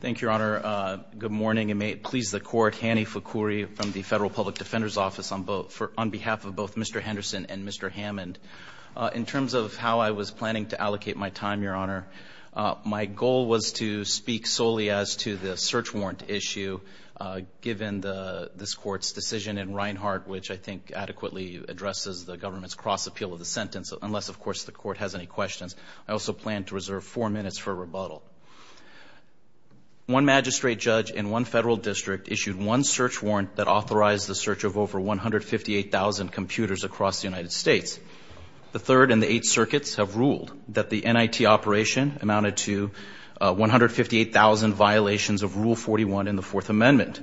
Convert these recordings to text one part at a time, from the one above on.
Thank you, Your Honor. Good morning, and may it please the Court, Hanny Fukui from the Federal Public Defender's Office on behalf of both Mr. Henderson and Mr. Hammond. In terms of how I was planning to allocate my time, Your Honor, my goal was to speak solely as to the search warrant issue, given this Court's decision in Reinhart, which I think adequately addresses the government's cross-appeal of the sentence, unless, of course, the Court has any questions. I also plan to reserve four minutes for rebuttal. One magistrate judge in one federal district issued one search warrant that authorized the search of over 158,000 computers across the United States. The Third and the Eighth Circuits have ruled that the NIT operation amounted to 158,000 violations of Rule 41 in the Fourth Amendment.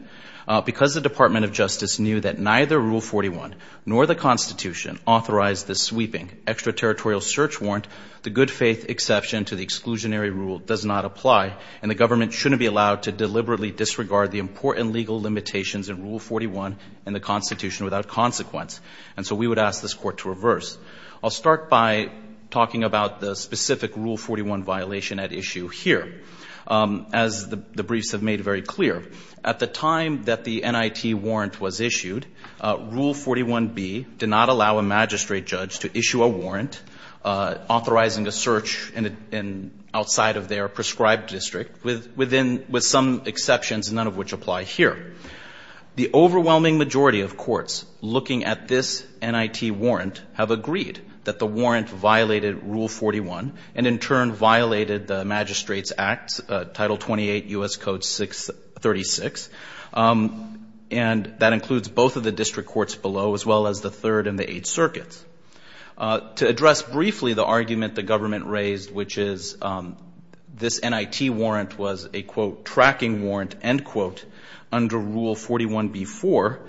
Because the Department of Justice knew that neither Rule 41 nor the Constitution authorized the sweeping extraterritorial search warrant, the good-faith exception to the exclusionary rule does not apply, and the government shouldn't be allowed to deliberately disregard the important legal limitations in Rule 41 in the Constitution without consequence. And so we would ask this Court to reverse. I'll start by talking about the specific Rule 41 violation at issue here. As the briefs have made very clear, at the time that the NIT warrant was issued, Rule 41b did not allow a magistrate judge to issue a warrant authorizing a search outside of their prescribed district, with some exceptions, none of which apply here. The overwhelming majority of courts looking at this NIT warrant have agreed that the warrant violated Rule 41, and in turn violated the Magistrate's Act, Title 28, U.S. Code 636. And that includes both of the district courts below, as well as the Third and the Eighth Circuits. To address briefly the argument the government raised, which is this NIT warrant was a, quote, tracking warrant, end quote, under Rule 41b-4,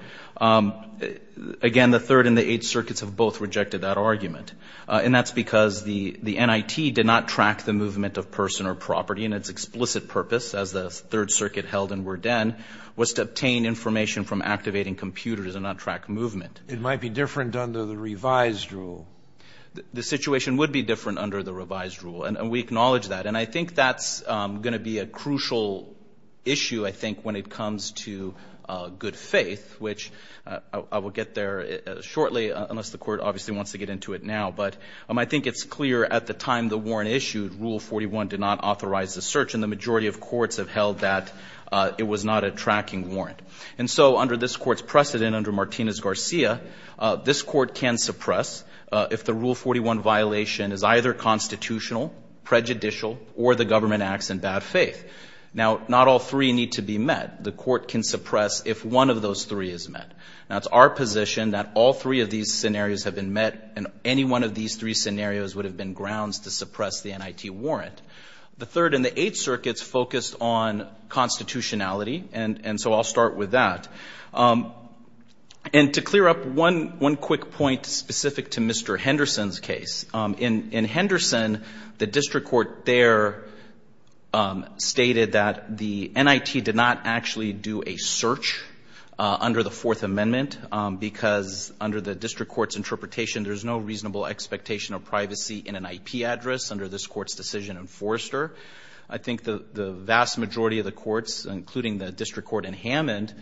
again, the Third and the Eighth Circuits have both rejected that argument. And that's because the NIT did not track the movement of person or property, and its explicit purpose, as the Third Circuit held in Werden, was to obtain information from activating computers and not track movement. It might be different under the revised rule. The situation would be different under the revised rule. And we acknowledge that. And I think that's going to be a crucial issue, I think, when it comes to good faith, which I will get there shortly, unless the Court obviously wants to get into it now. But I think it's clear at the time the warrant issued, Rule 41 did not authorize the search, and the majority of courts have held that it was not a tracking warrant. And so under this Court's precedent, under Martinez-Garcia, this Court can suppress if the Rule 41 violation is either constitutional, prejudicial, or the government acts in bad faith. Now, not all three need to be met. The Court can suppress if one of those three is met. Now, it's our position that all three of these scenarios have been met, and any one of these three scenarios would have been grounds to suppress the NIT warrant. The Third and the Eighth Circuits focused on constitutionality, and so I'll start with that. And to clear up one quick point specific to Mr. Henderson's case, in Henderson, the district court there stated that the NIT did not actually do a search under the Fourth Amendment because under the district court's interpretation, there's no reasonable expectation of privacy in an IP address under this Court's decision in Forrester. I think the vast majority of the courts, including the district court in Hammond,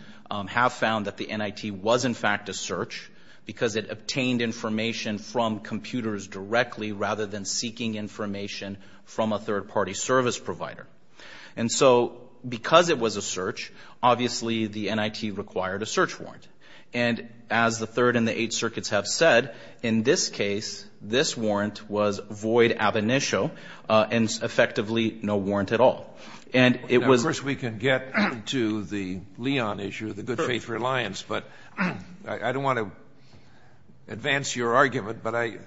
have found that the NIT was, in fact, a search because it obtained information from computers directly, rather than seeking information from a third-party service provider. And so because it was a search, obviously the NIT required a search warrant. And as the Third and the Eighth Circuits have said, in this case, this warrant was void ab initio, and effectively no warrant at all. And it was Scalia, of course, we can get to the Leon issue, the good faith reliance, but I don't want to advance your argument, but I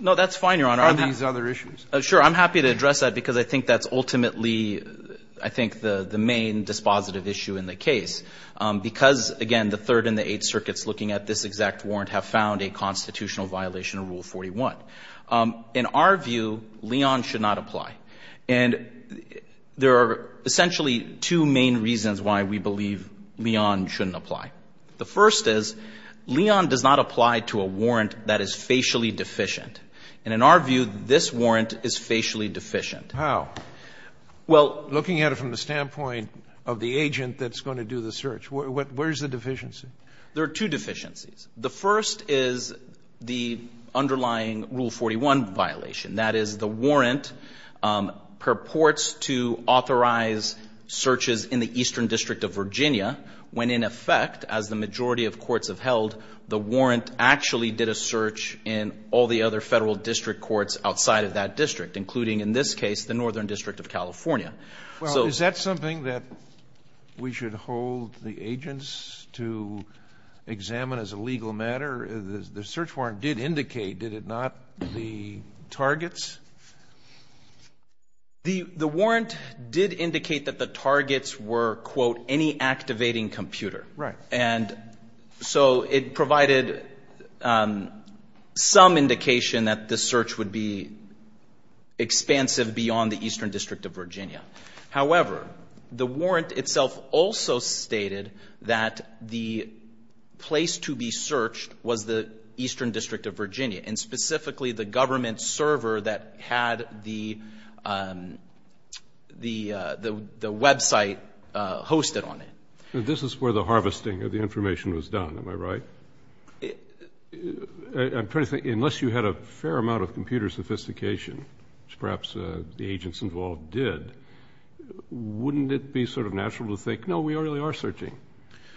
— No, that's fine, Your Honor. Are these other issues? Sure. I'm happy to address that because I think that's ultimately, I think, the main dispositive issue in the case, because, again, the Third and the Eighth Circuits looking at this exact warrant have found a constitutional violation of Rule 41. In our view, Leon should not apply. And there are essentially two main reasons why we believe Leon shouldn't apply. The first is Leon does not apply to a warrant that is facially deficient. And in our view, this warrant is facially deficient. How? Well, looking at it from the standpoint of the agent that's going to do the search, where's the deficiency? There are two deficiencies. The first is the underlying Rule 41 violation. That is, the warrant purports to authorize searches in the Eastern District of Virginia when, in effect, as the majority of courts have held, the warrant actually did a search in all the other Federal district courts outside of that district, including, in this case, the Northern District of California. So — Well, is that something that we should hold the agents to examine as a legal matter? The search warrant did indicate, did it not, the targets? The warrant did indicate that the targets were, quote, any activating computer. Right. And so it provided some indication that the search would be expansive beyond the Eastern District of Virginia. However, the warrant itself also stated that the place to be searched was the Eastern District of Virginia, and specifically the government server that had the website hosted on it. This is where the harvesting of the information was done. Am I right? I'm trying to think, unless you had a fair amount of computer sophistication, which perhaps the agents involved did, wouldn't it be sort of natural to think, no, we really are searching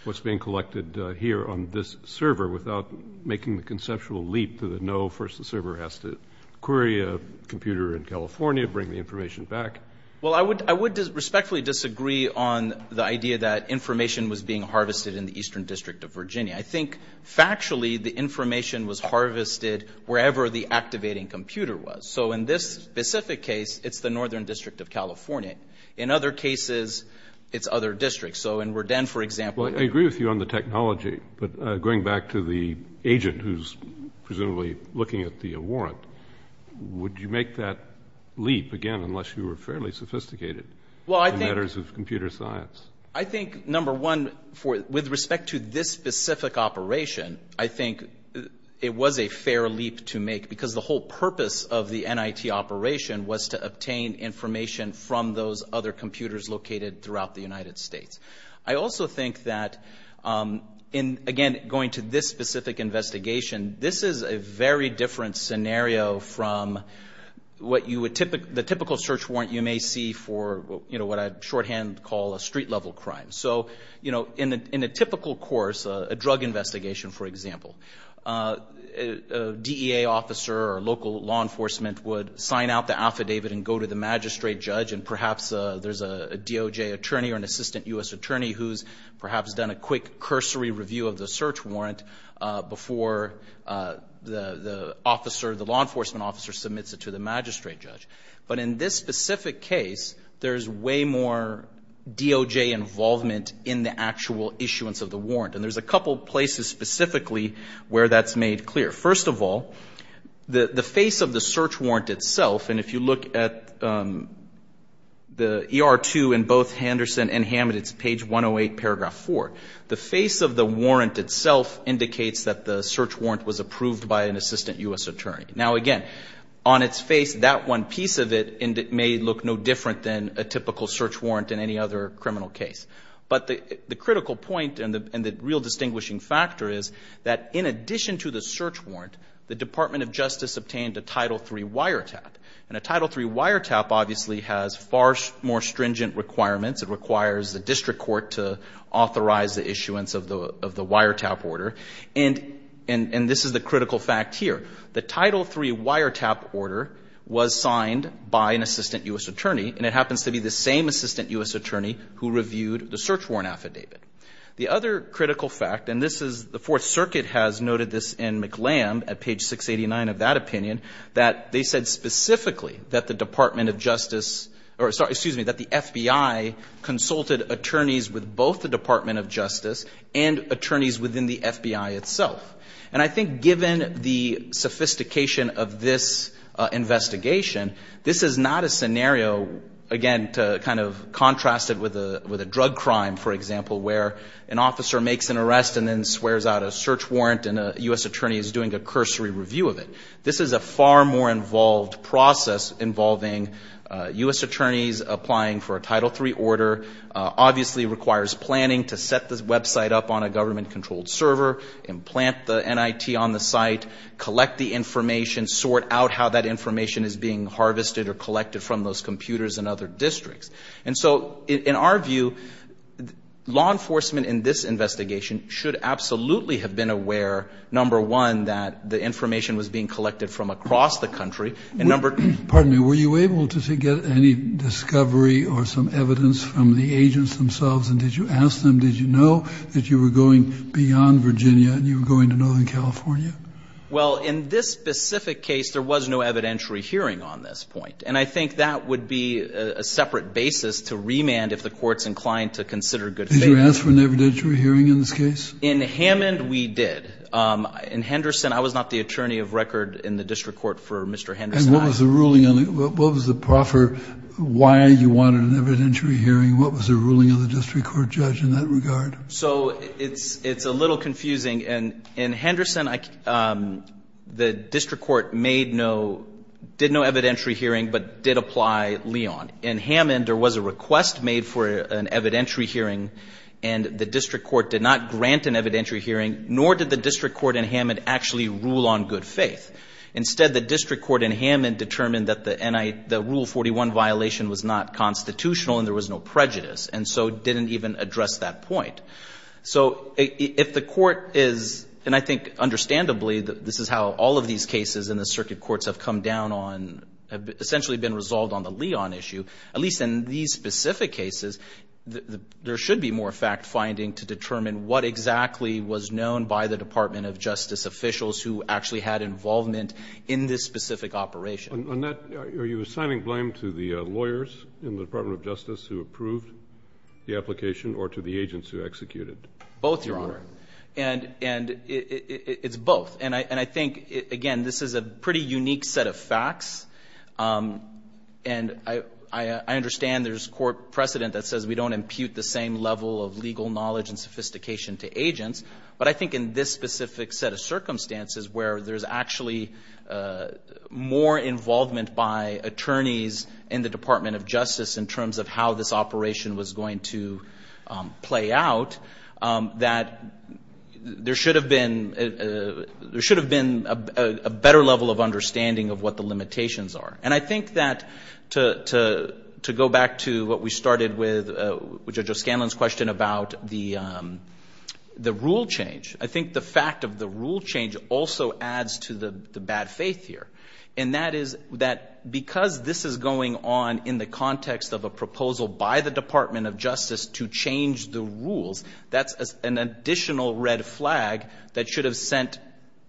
what's being collected here on this server without making the conceptual leap to the, no, first the server has to query a computer in California, bring the information back? Well, I would respectfully disagree on the idea that information was being harvested in the Eastern District of Virginia. I think, factually, the information was harvested wherever the activating computer was. So in this specific case, it's the Northern District of California. In other cases, it's other districts. So in Werden, for example — Well, I agree with you on the technology. But going back to the agent who's presumably looking at the warrant, would you make that leap again unless you were fairly sophisticated in matters of computer science? I think, number one, with respect to this specific operation, I think it was a fair leap to make because the whole purpose of the NIT operation was to obtain information from those other computers located throughout the United States. I also think that, again, going to this specific investigation, this is a very different scenario from the typical search warrant you may see for what I shorthand call a street-level crime. So in a typical course, a drug investigation, for example, a DEA officer or local law enforcement would sign out the affidavit and go to the magistrate judge, and perhaps there's a DOJ attorney or an assistant U.S. attorney who's perhaps done a quick cursory review of the search warrant before the law enforcement officer submits it to the magistrate judge. But in this specific case, there's way more DOJ involvement in the actual issuance of the warrant. And there's a couple places specifically where that's made clear. First of all, the face of the search warrant itself, and if you look at the ER-2 in both Henderson and Hammett, it's page 108, paragraph 4. The face of the warrant itself indicates that the search warrant was approved by an assistant U.S. attorney. Now, again, on its face, that one piece of it may look no different than a typical search warrant in any other criminal case. But the critical point and the real distinguishing factor is that in addition to the search warrant, the Department of Justice obtained a Title III wiretap. And a Title III wiretap obviously has far more stringent requirements. It requires the district court to authorize the issuance of the wiretap order. And this is the critical fact here. The Title III wiretap order was signed by an assistant U.S. attorney, and it happens to be the same assistant U.S. attorney who reviewed the search warrant affidavit. The other critical fact, and this is the Fourth Circuit has noted this in McLamb at page 689 of that opinion, that they said specifically that the Department of Justice or, sorry, excuse me, that the FBI consulted attorneys with both the Department of Justice and attorneys within the FBI itself. And I think given the sophistication of this investigation, this is not a scenario again to kind of contrast it with a drug crime, for example, where an officer makes an arrest and then swears out a search warrant and a U.S. attorney is doing a cursory review of it. This is a far more involved process involving U.S. attorneys applying for a Title III order, obviously requires planning to set the website up on a government-controlled server, implant the NIT on the site, collect the information, sort out how that information is being harvested or collected from those computers in other districts. And so in our view, law enforcement in this investigation should absolutely have been aware, number one, that the information was being collected from across the country. And number two ---- Kennedy, were you able to get any discovery or some evidence from the agents themselves? And did you ask them? Did you know that you were going beyond Virginia and you were going to Northern California? Well, in this specific case, there was no evidentiary hearing on this point. And I think that would be a separate basis to remand if the Court's inclined to consider good faith. Did you ask for an evidentiary hearing in this case? In Hammond, we did. In Henderson, I was not the attorney of record in the district court for Mr. Henderson. And what was the ruling on it? What was the proffer? Why you wanted an evidentiary hearing? What was the ruling of the district court judge in that regard? So it's a little confusing. In Henderson, the district court made no ---- did no evidentiary hearing, but did apply Leon. In Hammond, there was a request made for an evidentiary hearing, and the district court did not grant an evidentiary hearing, nor did the district court in Hammond actually rule on good faith. Instead, the district court in Hammond determined that the rule 41 violation was not constitutional and there was no prejudice, and so didn't even address that point. So if the court is, and I think understandably this is how all of these cases in the circuit courts have come down on, have essentially been resolved on the Leon issue, at least in these specific cases, there should be more fact-finding to determine what exactly was known by the Department of Justice officials who actually had involvement in this specific operation. On that, are you assigning blame to the lawyers in the Department of Justice who approved the application or to the agents who executed? Both, Your Honor. And it's both. And I think, again, this is a pretty unique set of facts, and I understand there's court precedent that says we don't impute the same level of legal knowledge and sophistication to agents, but I think in this specific set of circumstances where there's actually more involvement by attorneys in the Department of Justice in terms of how this operation was going to play out, that there should have been a better level of understanding of what the limitations are. And I think that to go back to what we started with Judge O'Scanlan's question about the rule change, I think the fact of the rule change also adds to the bad faith here, and that is that because this is going on in the context of a proposal by the Department of Justice to change the rules, that's an additional red flag that should have sent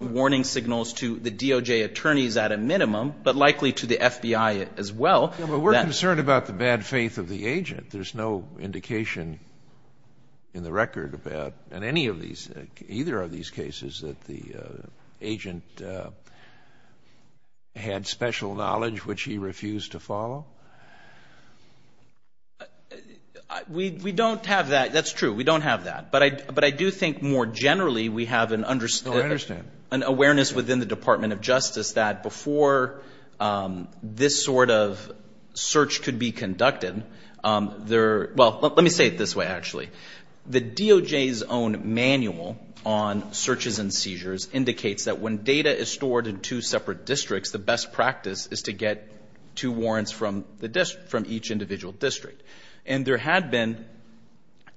warning signals to the DOJ attorneys at a minimum, but likely to the FBI as well. But we're concerned about the bad faith of the agent. There's no indication in the record about, in any of these, either of these cases, that the agent had special knowledge which he refused to follow? We don't have that. That's true. We don't have that. But I do think more generally we have an understanding. No, I understand. An awareness within the Department of Justice that before this sort of search could be conducted, there are — well, let me say it this way, actually. The DOJ's own manual on searches and seizures indicates that when data is stored in two separate districts, the best practice is to get two warrants from each individual district. And there had been,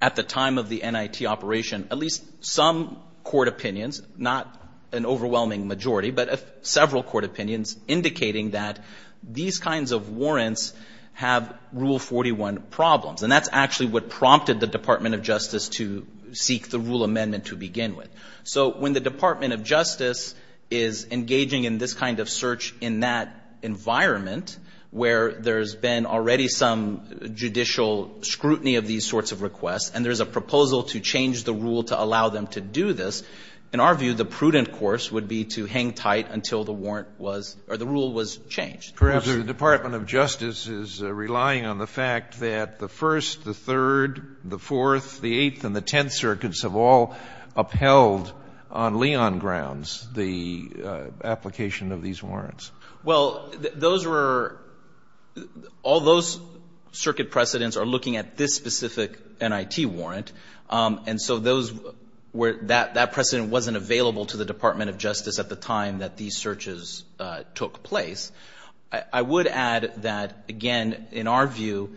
at the time of the NIT operation, at least some court opinions, not an overwhelming majority, but several court opinions indicating that these kinds of warrants have Rule 41 problems. And that's actually what prompted the Department of Justice to seek the rule amendment to begin with. So when the Department of Justice is engaging in this kind of search in that environment where there's been already some judicial scrutiny of these sorts of requests and there's a proposal to change the rule to allow them to do this, in our view, the prudent course would be to hang tight until the warrant was or the rule was changed. Kennedy. Perhaps the Department of Justice is relying on the fact that the First, the Third, the Fourth, the Eighth and the Tenth Circuits have all upheld on Leon grounds the application of these warrants. Well, those were — all those circuit precedents are looking at this specific NIT warrant. And so those were — that precedent wasn't available to the Department of Justice at the time that these searches took place. I would add that, again, in our view,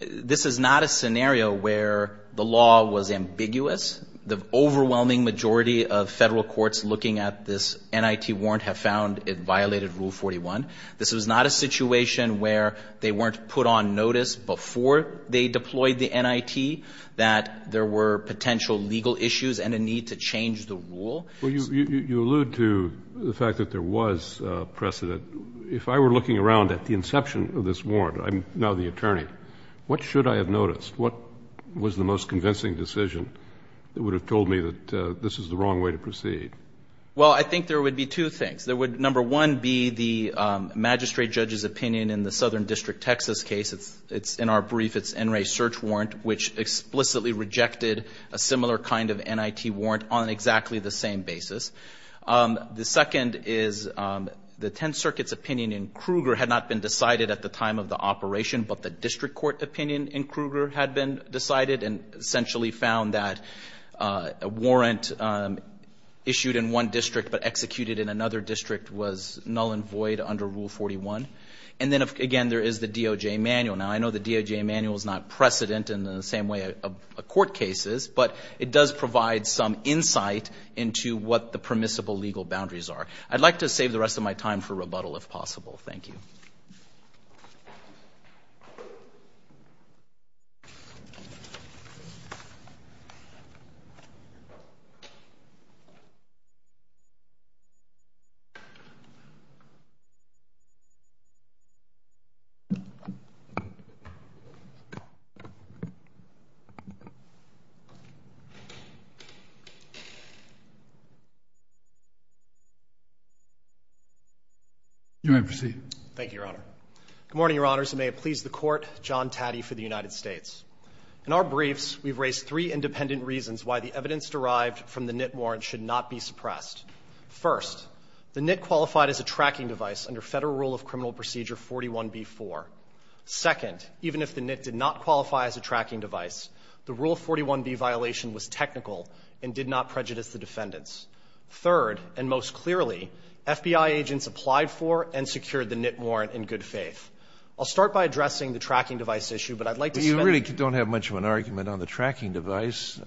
this is not a scenario where the law was ambiguous. The overwhelming majority of Federal courts looking at this NIT warrant have found it violated Rule 41. This was not a situation where they weren't put on notice before they deployed the NIT that there were potential legal issues and a need to change the rule. Well, you allude to the fact that there was precedent. If I were looking around at the inception of this warrant, I'm now the attorney, what should I have noticed? What was the most convincing decision that would have told me that this is the wrong way to proceed? Well, I think there would be two things. There would, number one, be the magistrate judge's opinion in the Southern District, Texas case. It's — in our brief, it's NRA's search warrant, which explicitly rejected a similar kind of NIT warrant on exactly the same basis. The second is the Tenth Circuit's opinion in Kruger had not been decided at the time of the operation, but the district court opinion in Kruger had been decided and essentially found that a warrant issued in one district but executed in another district was null and void under Rule 41. And then, again, there is the DOJ manual. Now, I know the DOJ manual is not precedent in the same way a court case is, but it does provide some insight into what the permissible legal boundaries are. I'd like to save the rest of my time for rebuttal, if possible. Thank you. You may proceed. Thank you, Your Honor. Good morning, Your Honors, and may it please the Court. John Taddy for the United States. In our briefs, we've raised three independent reasons why the evidence derived from the NIT warrant should not be suppressed. First, the NIT qualified as a tracking device under Federal Rule of Criminal Procedure 41b-4. Second, even if the NIT did not qualify as a tracking device, the Rule 41b violation was technical and did not prejudice the defendants. Third, and most clearly, FBI agents applied for and secured the NIT warrant in good faith. I'll start by addressing the tracking device issue, but I'd like to spend a few minutes on that. You really don't have much of an argument on the tracking device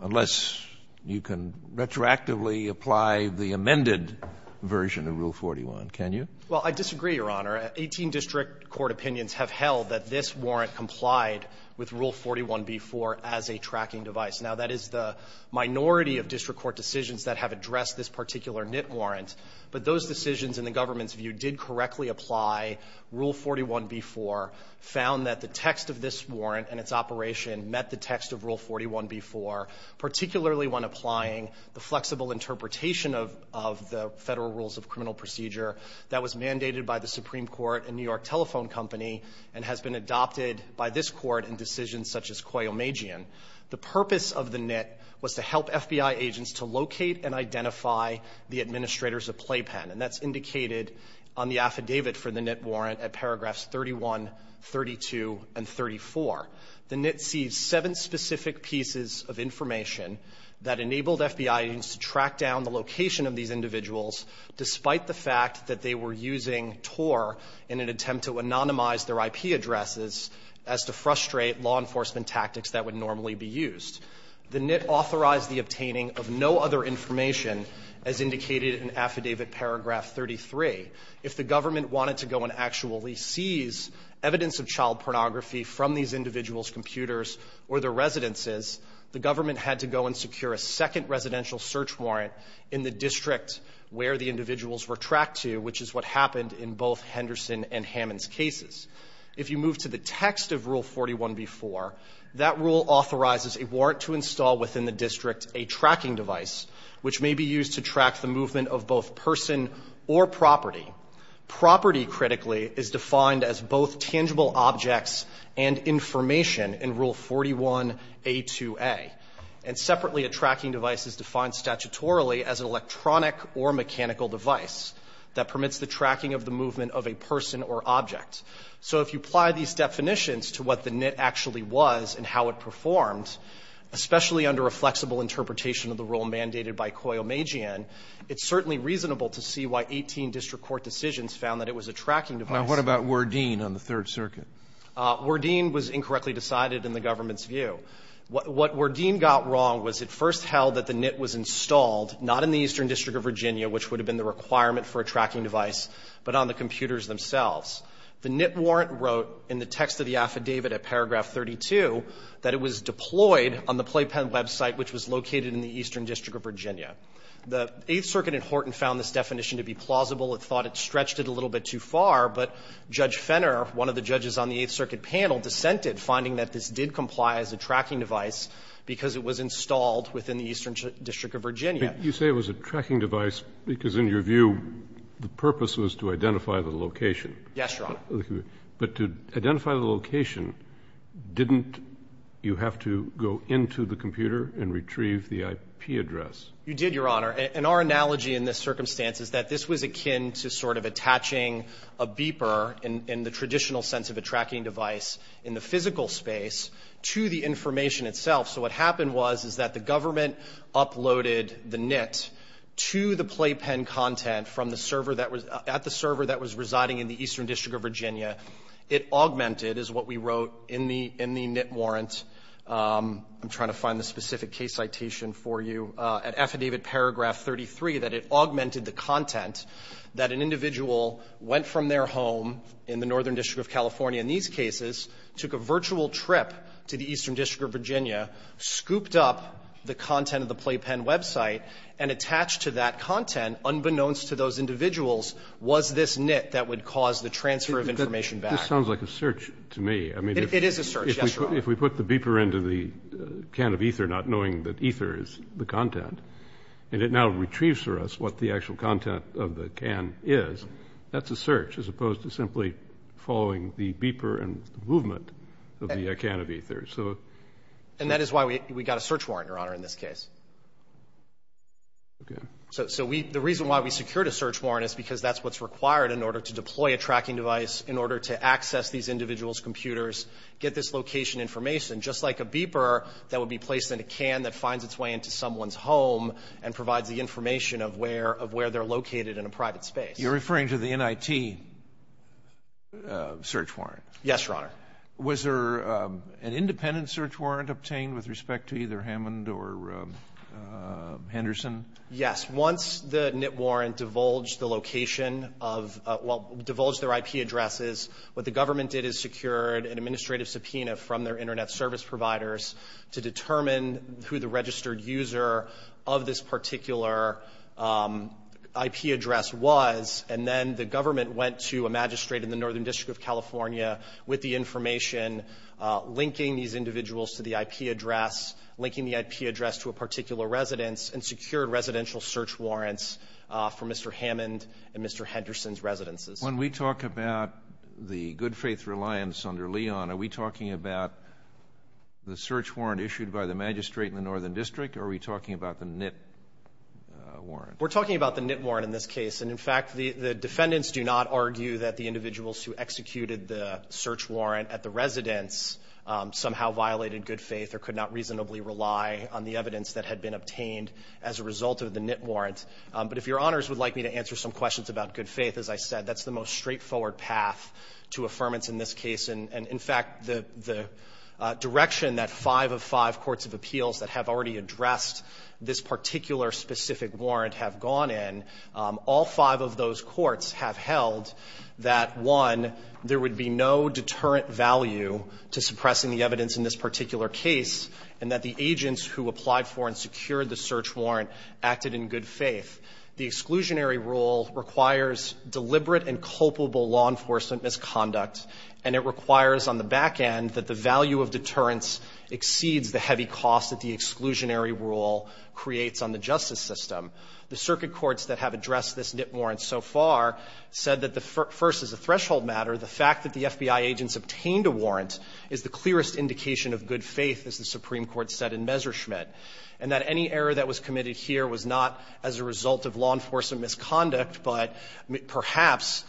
unless you can retroactively apply the amended version of Rule 41, can you? Well, I disagree, Your Honor. Eighteen district court opinions have held that this warrant complied with Rule 41b-4 as a tracking device. Now, that is the minority of district court decisions that have addressed this particular NIT warrant, but those decisions, in the government's view, did correctly apply Rule 41b-4, found that the text of this warrant and its operation met the text of Rule 41b-4, particularly when applying the flexible interpretation of the Federal Rules of Criminal Procedure that was mandated by the Supreme Court and New York Telephone Company and has been adopted by this Court in decisions such as Coyomagian. The purpose of the NIT was to help FBI agents to locate and identify the administrators of Playpen, and that's indicated on the affidavit for the NIT warrant at paragraphs 31, 32, and 34. The NIT sees seven specific pieces of information that enabled FBI agents to track down the location of these individuals despite the fact that they were using TOR in an attempt to anonymize their IP addresses as to frustrate law enforcement tactics that would normally be used. The NIT authorized the obtaining of no other information as indicated in Affidavit paragraph 33. If the government wanted to go and actually seize evidence of child pornography from these individuals' computers or their residences, the government had to go and secure a second residential search warrant in the district where the individuals were tracked to, which is what happened in both Henderson and Hammond's cases. If you move to the text of Rule 41b-4, that rule authorizes a warrant to install within the district a tracking device, which may be used to track the movement of both person or property. Property, critically, is defined as both tangible objects and information in Rule 41a-2a. And separately, a tracking device is defined statutorily as an electronic or mechanical device that permits the tracking of the movement of a person or object. So if you apply these definitions to what the NIT actually was and how it performed, especially under a flexible interpretation of the rule mandated by Coyomajian, it's certainly reasonable to see why 18 district court decisions found that it was a tracking device. Now, what about Wardeen on the Third Circuit? Wardeen was incorrectly decided in the government's view. What Wardeen got wrong was it first held that the NIT was installed not in the Eastern District of Virginia, which would have been the requirement for a tracking device, but on the computers themselves. The NIT warrant wrote in the text of the Affidavit at paragraph 32 that it was deployed on the Playpen website, which was located in the Eastern District of Virginia. The Eighth Circuit in Horton found this definition to be plausible. It thought it stretched it a little bit too far. But Judge Fenner, one of the judges on the Eighth Circuit panel, dissented, finding that this did comply as a tracking device because it was installed within the Eastern District of Virginia. But you say it was a tracking device because, in your view, the purpose was to identify the location. Yes, Your Honor. But to identify the location, didn't you have to go into the computer and retrieve the IP address? You did, Your Honor. And our analogy in this circumstance is that this was akin to sort of attaching a beeper in the traditional sense of a tracking device in the physical space to the information itself. So what happened was is that the government uploaded the NIT to the Playpen content at the server that was residing in the Eastern District of Virginia. It augmented, is what we wrote in the NIT warrant. I'm trying to find the specific case citation for you. At Affidavit Paragraph 33, that it augmented the content that an individual went from their home in the Northern District of California in these cases, took a virtual trip to the Eastern District of Virginia, scooped up the content of the Playpen website, and attached to that content, unbeknownst to those individuals, was this NIT that would cause the transfer of information back. This sounds like a search to me. It is a search, yes, Your Honor. If we put the beeper into the can of ether not knowing that ether is the content, and it now retrieves for us what the actual content of the can is, that's a search as opposed to simply following the beeper and the movement of the can of ether. And that is why we got a search warrant, Your Honor, in this case. Okay. So the reason why we secured a search warrant is because that's what's required in order to deploy a tracking device, in order to access these individuals' computers, get this location information, just like a beeper that would be placed in a can that finds its way into someone's home and provides the information of where they're located in a private space. You're referring to the NIT search warrant. Yes, Your Honor. Was there an independent search warrant obtained with respect to either Hammond or Henderson? Yes. Once the NIT warrant divulged the location of the IP addresses, what the government did is secured an administrative subpoena from their Internet service providers to determine who the registered user of this particular IP address was. And then the government went to a magistrate in the Northern District of California with the information, linking these individuals to the IP address, linking the IP address to a particular residence, and secured residential search warrants for Mr. Hammond and Mr. Henderson's residences. When we talk about the good-faith reliance under Leon, are we talking about the search warrant issued by the magistrate in the Northern District, or are we talking about the NIT warrant? We're talking about the NIT warrant in this case. And, in fact, the defendants do not argue that the individuals who executed the search warrant at the residence somehow violated good faith or could not reasonably rely on the evidence that had been obtained as a result of the NIT warrant. But if Your Honors would like me to answer some questions about good faith, as I said, that's the most straightforward path to affirmance in this case. And, in fact, the direction that five of five courts of appeals that have already addressed this particular specific warrant have gone in, all five of those courts have held that, one, there would be no deterrent value to suppressing the evidence in this particular case, and that the agents who applied for and secured the search warrant acted in good faith. The exclusionary rule requires deliberate and culpable law enforcement misconduct, and it requires on the back end that the value of deterrence exceeds the heavy cost that the exclusionary rule creates on the justice system. The circuit courts that have addressed this NIT warrant so far said that the first as a threshold matter, the fact that the FBI agents obtained a warrant is the clearest indication of good faith, as the Supreme Court said in Messerschmidt, and that any error that was committed here was not as a result of law enforcement misconduct, but perhaps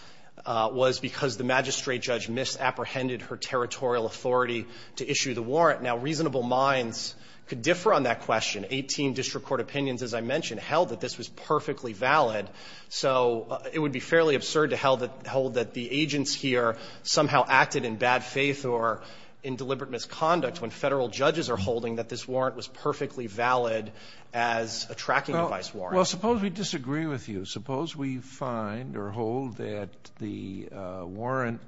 was because the magistrate judge misapprehended her territorial authority to issue the warrant. Now, reasonable minds could differ on that question. Eighteen district court opinions, as I mentioned, held that this was perfectly valid, so it would be fairly absurd to hold that the agents here somehow acted in bad faith or in deliberate misconduct when Federal judges are holding that this warrant was perfectly valid as a tracking device warrant. Sotomayor Well, suppose we disagree with you. Suppose we find or hold that the warrant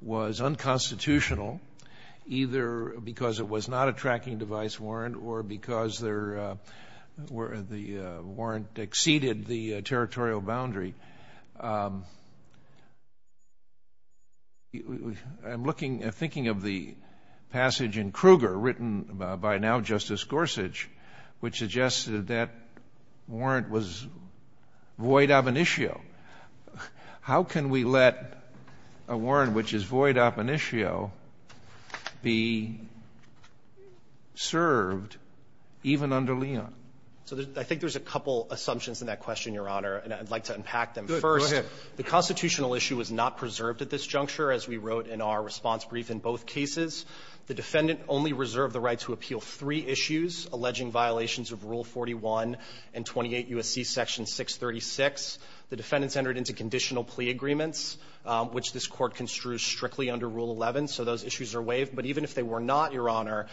was unconstitutional either because it was not a tracking device warrant or because the warrant exceeded the territorial boundary. I'm looking and thinking of the passage in Kruger written by now Justice Gorsuch which suggested that warrant was void ab initio. How can we let a warrant which is void ab initio be served even under Leon? So I think there's a couple assumptions in that question, Your Honor, and I'd like to unpack them. First, the constitutional issue was not preserved at this juncture, as we wrote in our response brief in both cases. The defendant only reserved the right to appeal three issues, alleging violations of Rule 41 and 28 U.S.C. Section 636. The defendants entered into conditional plea agreements, which this Court construes strictly under Rule 11, so those issues are waived. But even if they were not, Your Honor,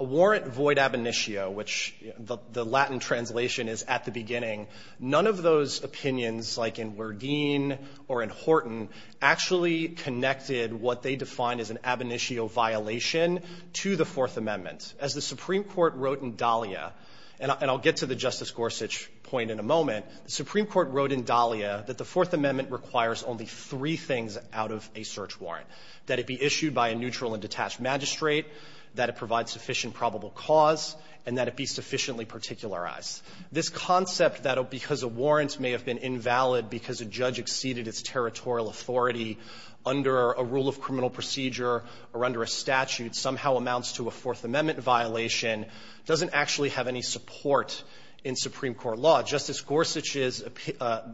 a warrant void ab initio, which the Latin translation is at the beginning, none of those opinions, like in Werdin or in Horton, actually connected what they defined as an ab initio violation to the Fourth Amendment. As the Supreme Court wrote in Dahlia, and I'll get to the Justice Gorsuch point in a moment, the Supreme Court wrote in Dahlia that the Fourth Amendment requires only three things out of a search warrant, that it be issued by a neutral and detached magistrate, that it provide sufficient probable cause, and that it be sufficiently particularized. This concept that because a warrant may have been invalid because a judge exceeded its territorial authority under a rule of criminal procedure or under a statute somehow amounts to a Fourth Amendment violation doesn't actually have any support in Supreme Court law. Justice Gorsuch's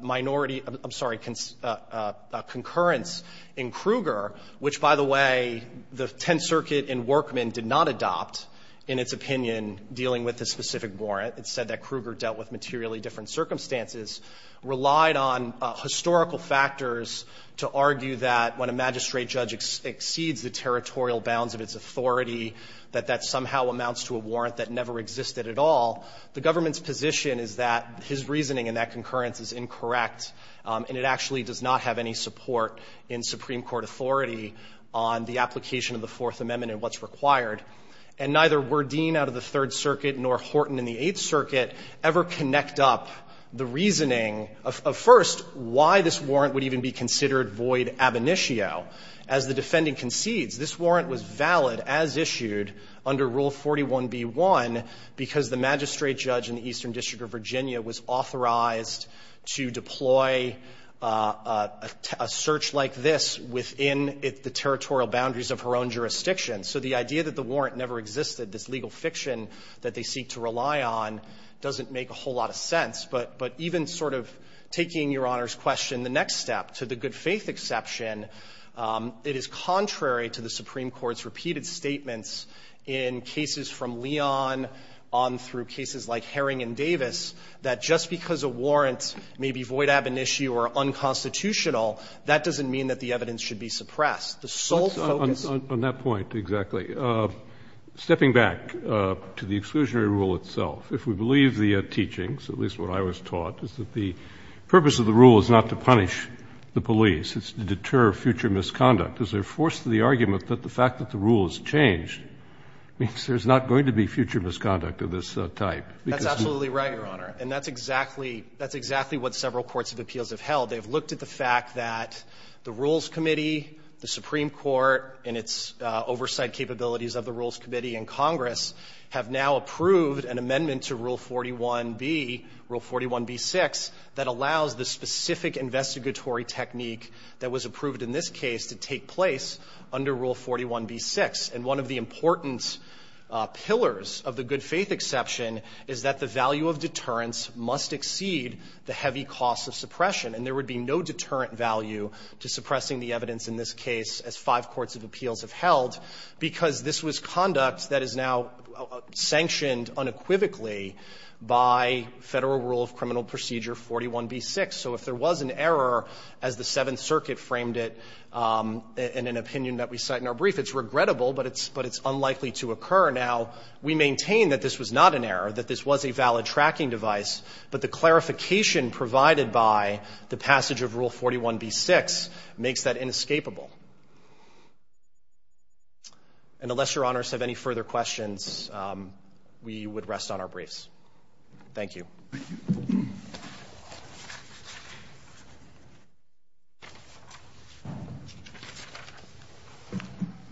minority – I'm sorry, concurrence in Kruger, which, by the way, the Tenth Circuit and Workmen did not adopt in its opinion dealing with this specific warrant. It said that Kruger dealt with materially different circumstances, relied on historical factors to argue that when a magistrate judge exceeds the territorial bounds of its authority, that that somehow amounts to a warrant that never existed at all. The government's position is that his reasoning in that concurrence is incorrect, and it actually does not have any support in Supreme Court authority on the application of the Fourth Amendment and what's required. And neither were Dean out of the Third Circuit nor Horton in the Eighth Circuit ever connect up the reasoning of, first, why this warrant would even be considered void ab initio as the defendant concedes. This warrant was valid as issued under Rule 41b-1 because the magistrate judge in the Eastern District of Virginia was authorized to deploy a search like this within the territorial boundaries of her own jurisdiction. So the idea that the warrant never existed, this legal fiction that they seek to rely on, doesn't make a whole lot of sense. But even sort of taking Your Honor's question, the next step, to the good-faith exception, it is contrary to the Supreme Court's repeated statements in cases from Leon, on through cases like Herring and Davis, that just because a warrant may be void ab initio or unconstitutional, that doesn't mean that the evidence should be suppressed. If we believe the teachings, at least what I was taught, is that the purpose of the rule is not to punish the police, it's to deter future misconduct. Is there force to the argument that the fact that the rule has changed means there's not going to be future misconduct of this type? That's absolutely right, Your Honor. And that's exactly what several courts of appeals have held. They've looked at the fact that the Rules Committee, the Supreme Court, and its oversight capabilities of the Rules Committee and Congress, have now approved an amendment to Rule 41b, Rule 41b-6, that allows the specific investigatory technique that was approved in this case to take place under Rule 41b-6. And one of the important pillars of the good-faith exception is that the value of deterrence must exceed the heavy cost of suppression. And there would be no deterrent value to suppressing the evidence in this case, as five because this was conduct that is now sanctioned unequivocally by Federal Rule of Criminal Procedure 41b-6. So if there was an error, as the Seventh Circuit framed it in an opinion that we cite in our brief, it's regrettable, but it's unlikely to occur. Now, we maintain that this was not an error, that this was a valid tracking device, but the clarification provided by the passage of Rule 41b-6 makes that inescapable. And unless Your Honors have any further questions, we would rest on our briefs. Thank you. Scalia.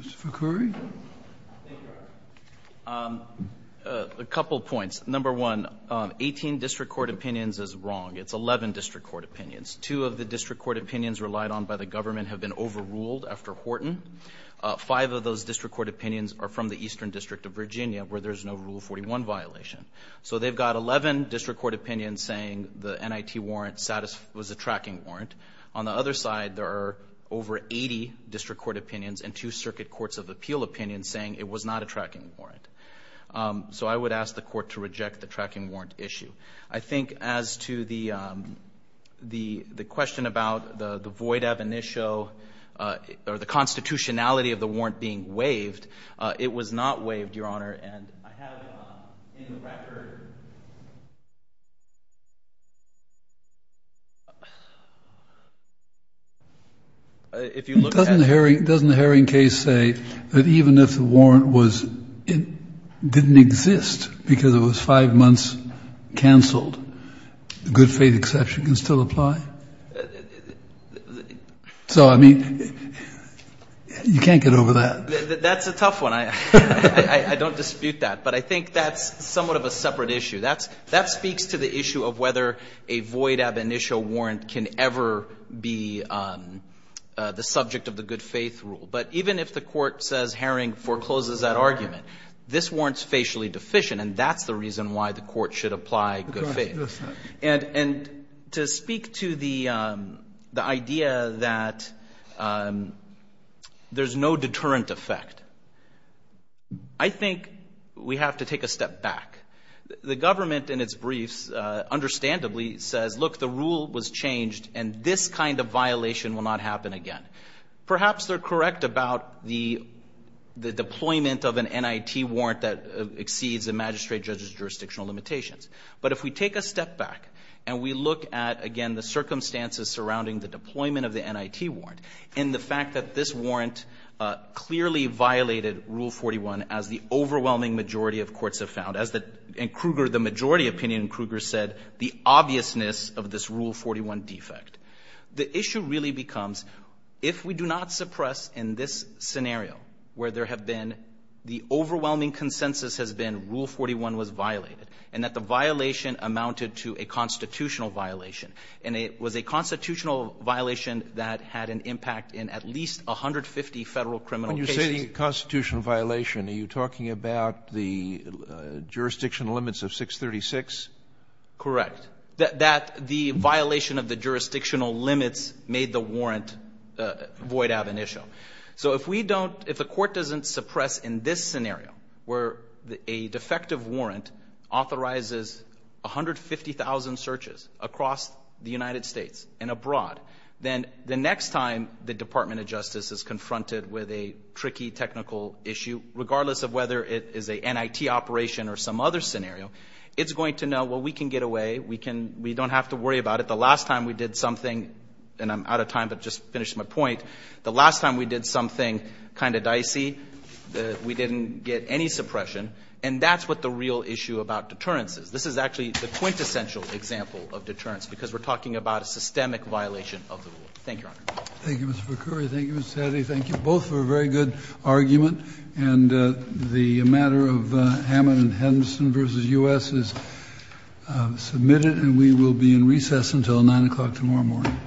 Mr. Ficari? Thank you, Your Honor. A couple points. Number one, 18 district court opinions is wrong. It's 11 district court opinions. Two of the district court opinions relied on by the government have been overruled after Horton. Five of those district court opinions are from the Eastern District of Virginia where there's no Rule 41 violation. So they've got 11 district court opinions saying the NIT warrant was a tracking warrant. On the other side, there are over 80 district court opinions and two Circuit Courts of Appeal opinions saying it was not a tracking warrant. So I would ask the Court to reject the tracking warrant issue. I think as to the question about the void ab initio or the constitutionality of the warrant being waived, it was not waived, Your Honor. And I have in the record, if you look at it. Doesn't the Herring case say that even if the warrant was — it didn't exist because it was five months canceled, the good faith exception can still apply? So I mean, you can't get over that. That's a tough one. I don't dispute that. But I think that's somewhat of a separate issue. That speaks to the issue of whether a void ab initio warrant can ever be the subject of the good faith rule. But even if the Court says Herring forecloses that argument, this warrant's facially deficient, and that's the reason why the Court should apply good faith. And to speak to the idea that there's no deterrent effect, I think we have to take a step back. The government in its briefs, understandably, says, look, the rule was changed and this kind of violation will not happen again. Perhaps they're correct about the deployment of an NIT warrant that exceeds the magistrate judge's jurisdictional limitations. But if we take a step back and we look at, again, the circumstances surrounding the deployment of the NIT warrant and the fact that this warrant clearly violated Rule 41, as the overwhelming majority of courts have found, as the — in Kruger, the majority opinion in Kruger said, the obviousness of this Rule 41 defect. The issue really becomes, if we do not suppress in this scenario where there have been — the overwhelming consensus has been Rule 41 was violated and that the violation amounted to a constitutional violation, and it was a constitutional violation that had an impact in at least 150 Federal criminal cases. When you say constitutional violation, are you talking about the jurisdictional limits of 636? Correct. That the violation of the jurisdictional limits made the warrant void of an issue. So if we don't — if the court doesn't suppress in this scenario where a defective warrant authorizes 150,000 searches across the United States and abroad, then the next time the Department of Justice is confronted with a tricky technical issue, regardless of whether it is a NIT operation or some other scenario, it's going to know, well, we can get away, we can — we don't have to worry about it. The last time we did something — and I'm out of time, but I just finished my point — the last time we did something kind of dicey, we didn't get any suppression, and that's what the real issue about deterrence is. This is actually the quintessential example of deterrence, because we're talking about a systemic violation of the Rule. Thank you, Your Honor. Thank you, Mr. Vercury. Thank you, Mr. Satty. Thank you both for a very good argument. And the matter of Hammond and Henderson v. U.S. is submitted, and we will be in recess until 9 o'clock tomorrow morning.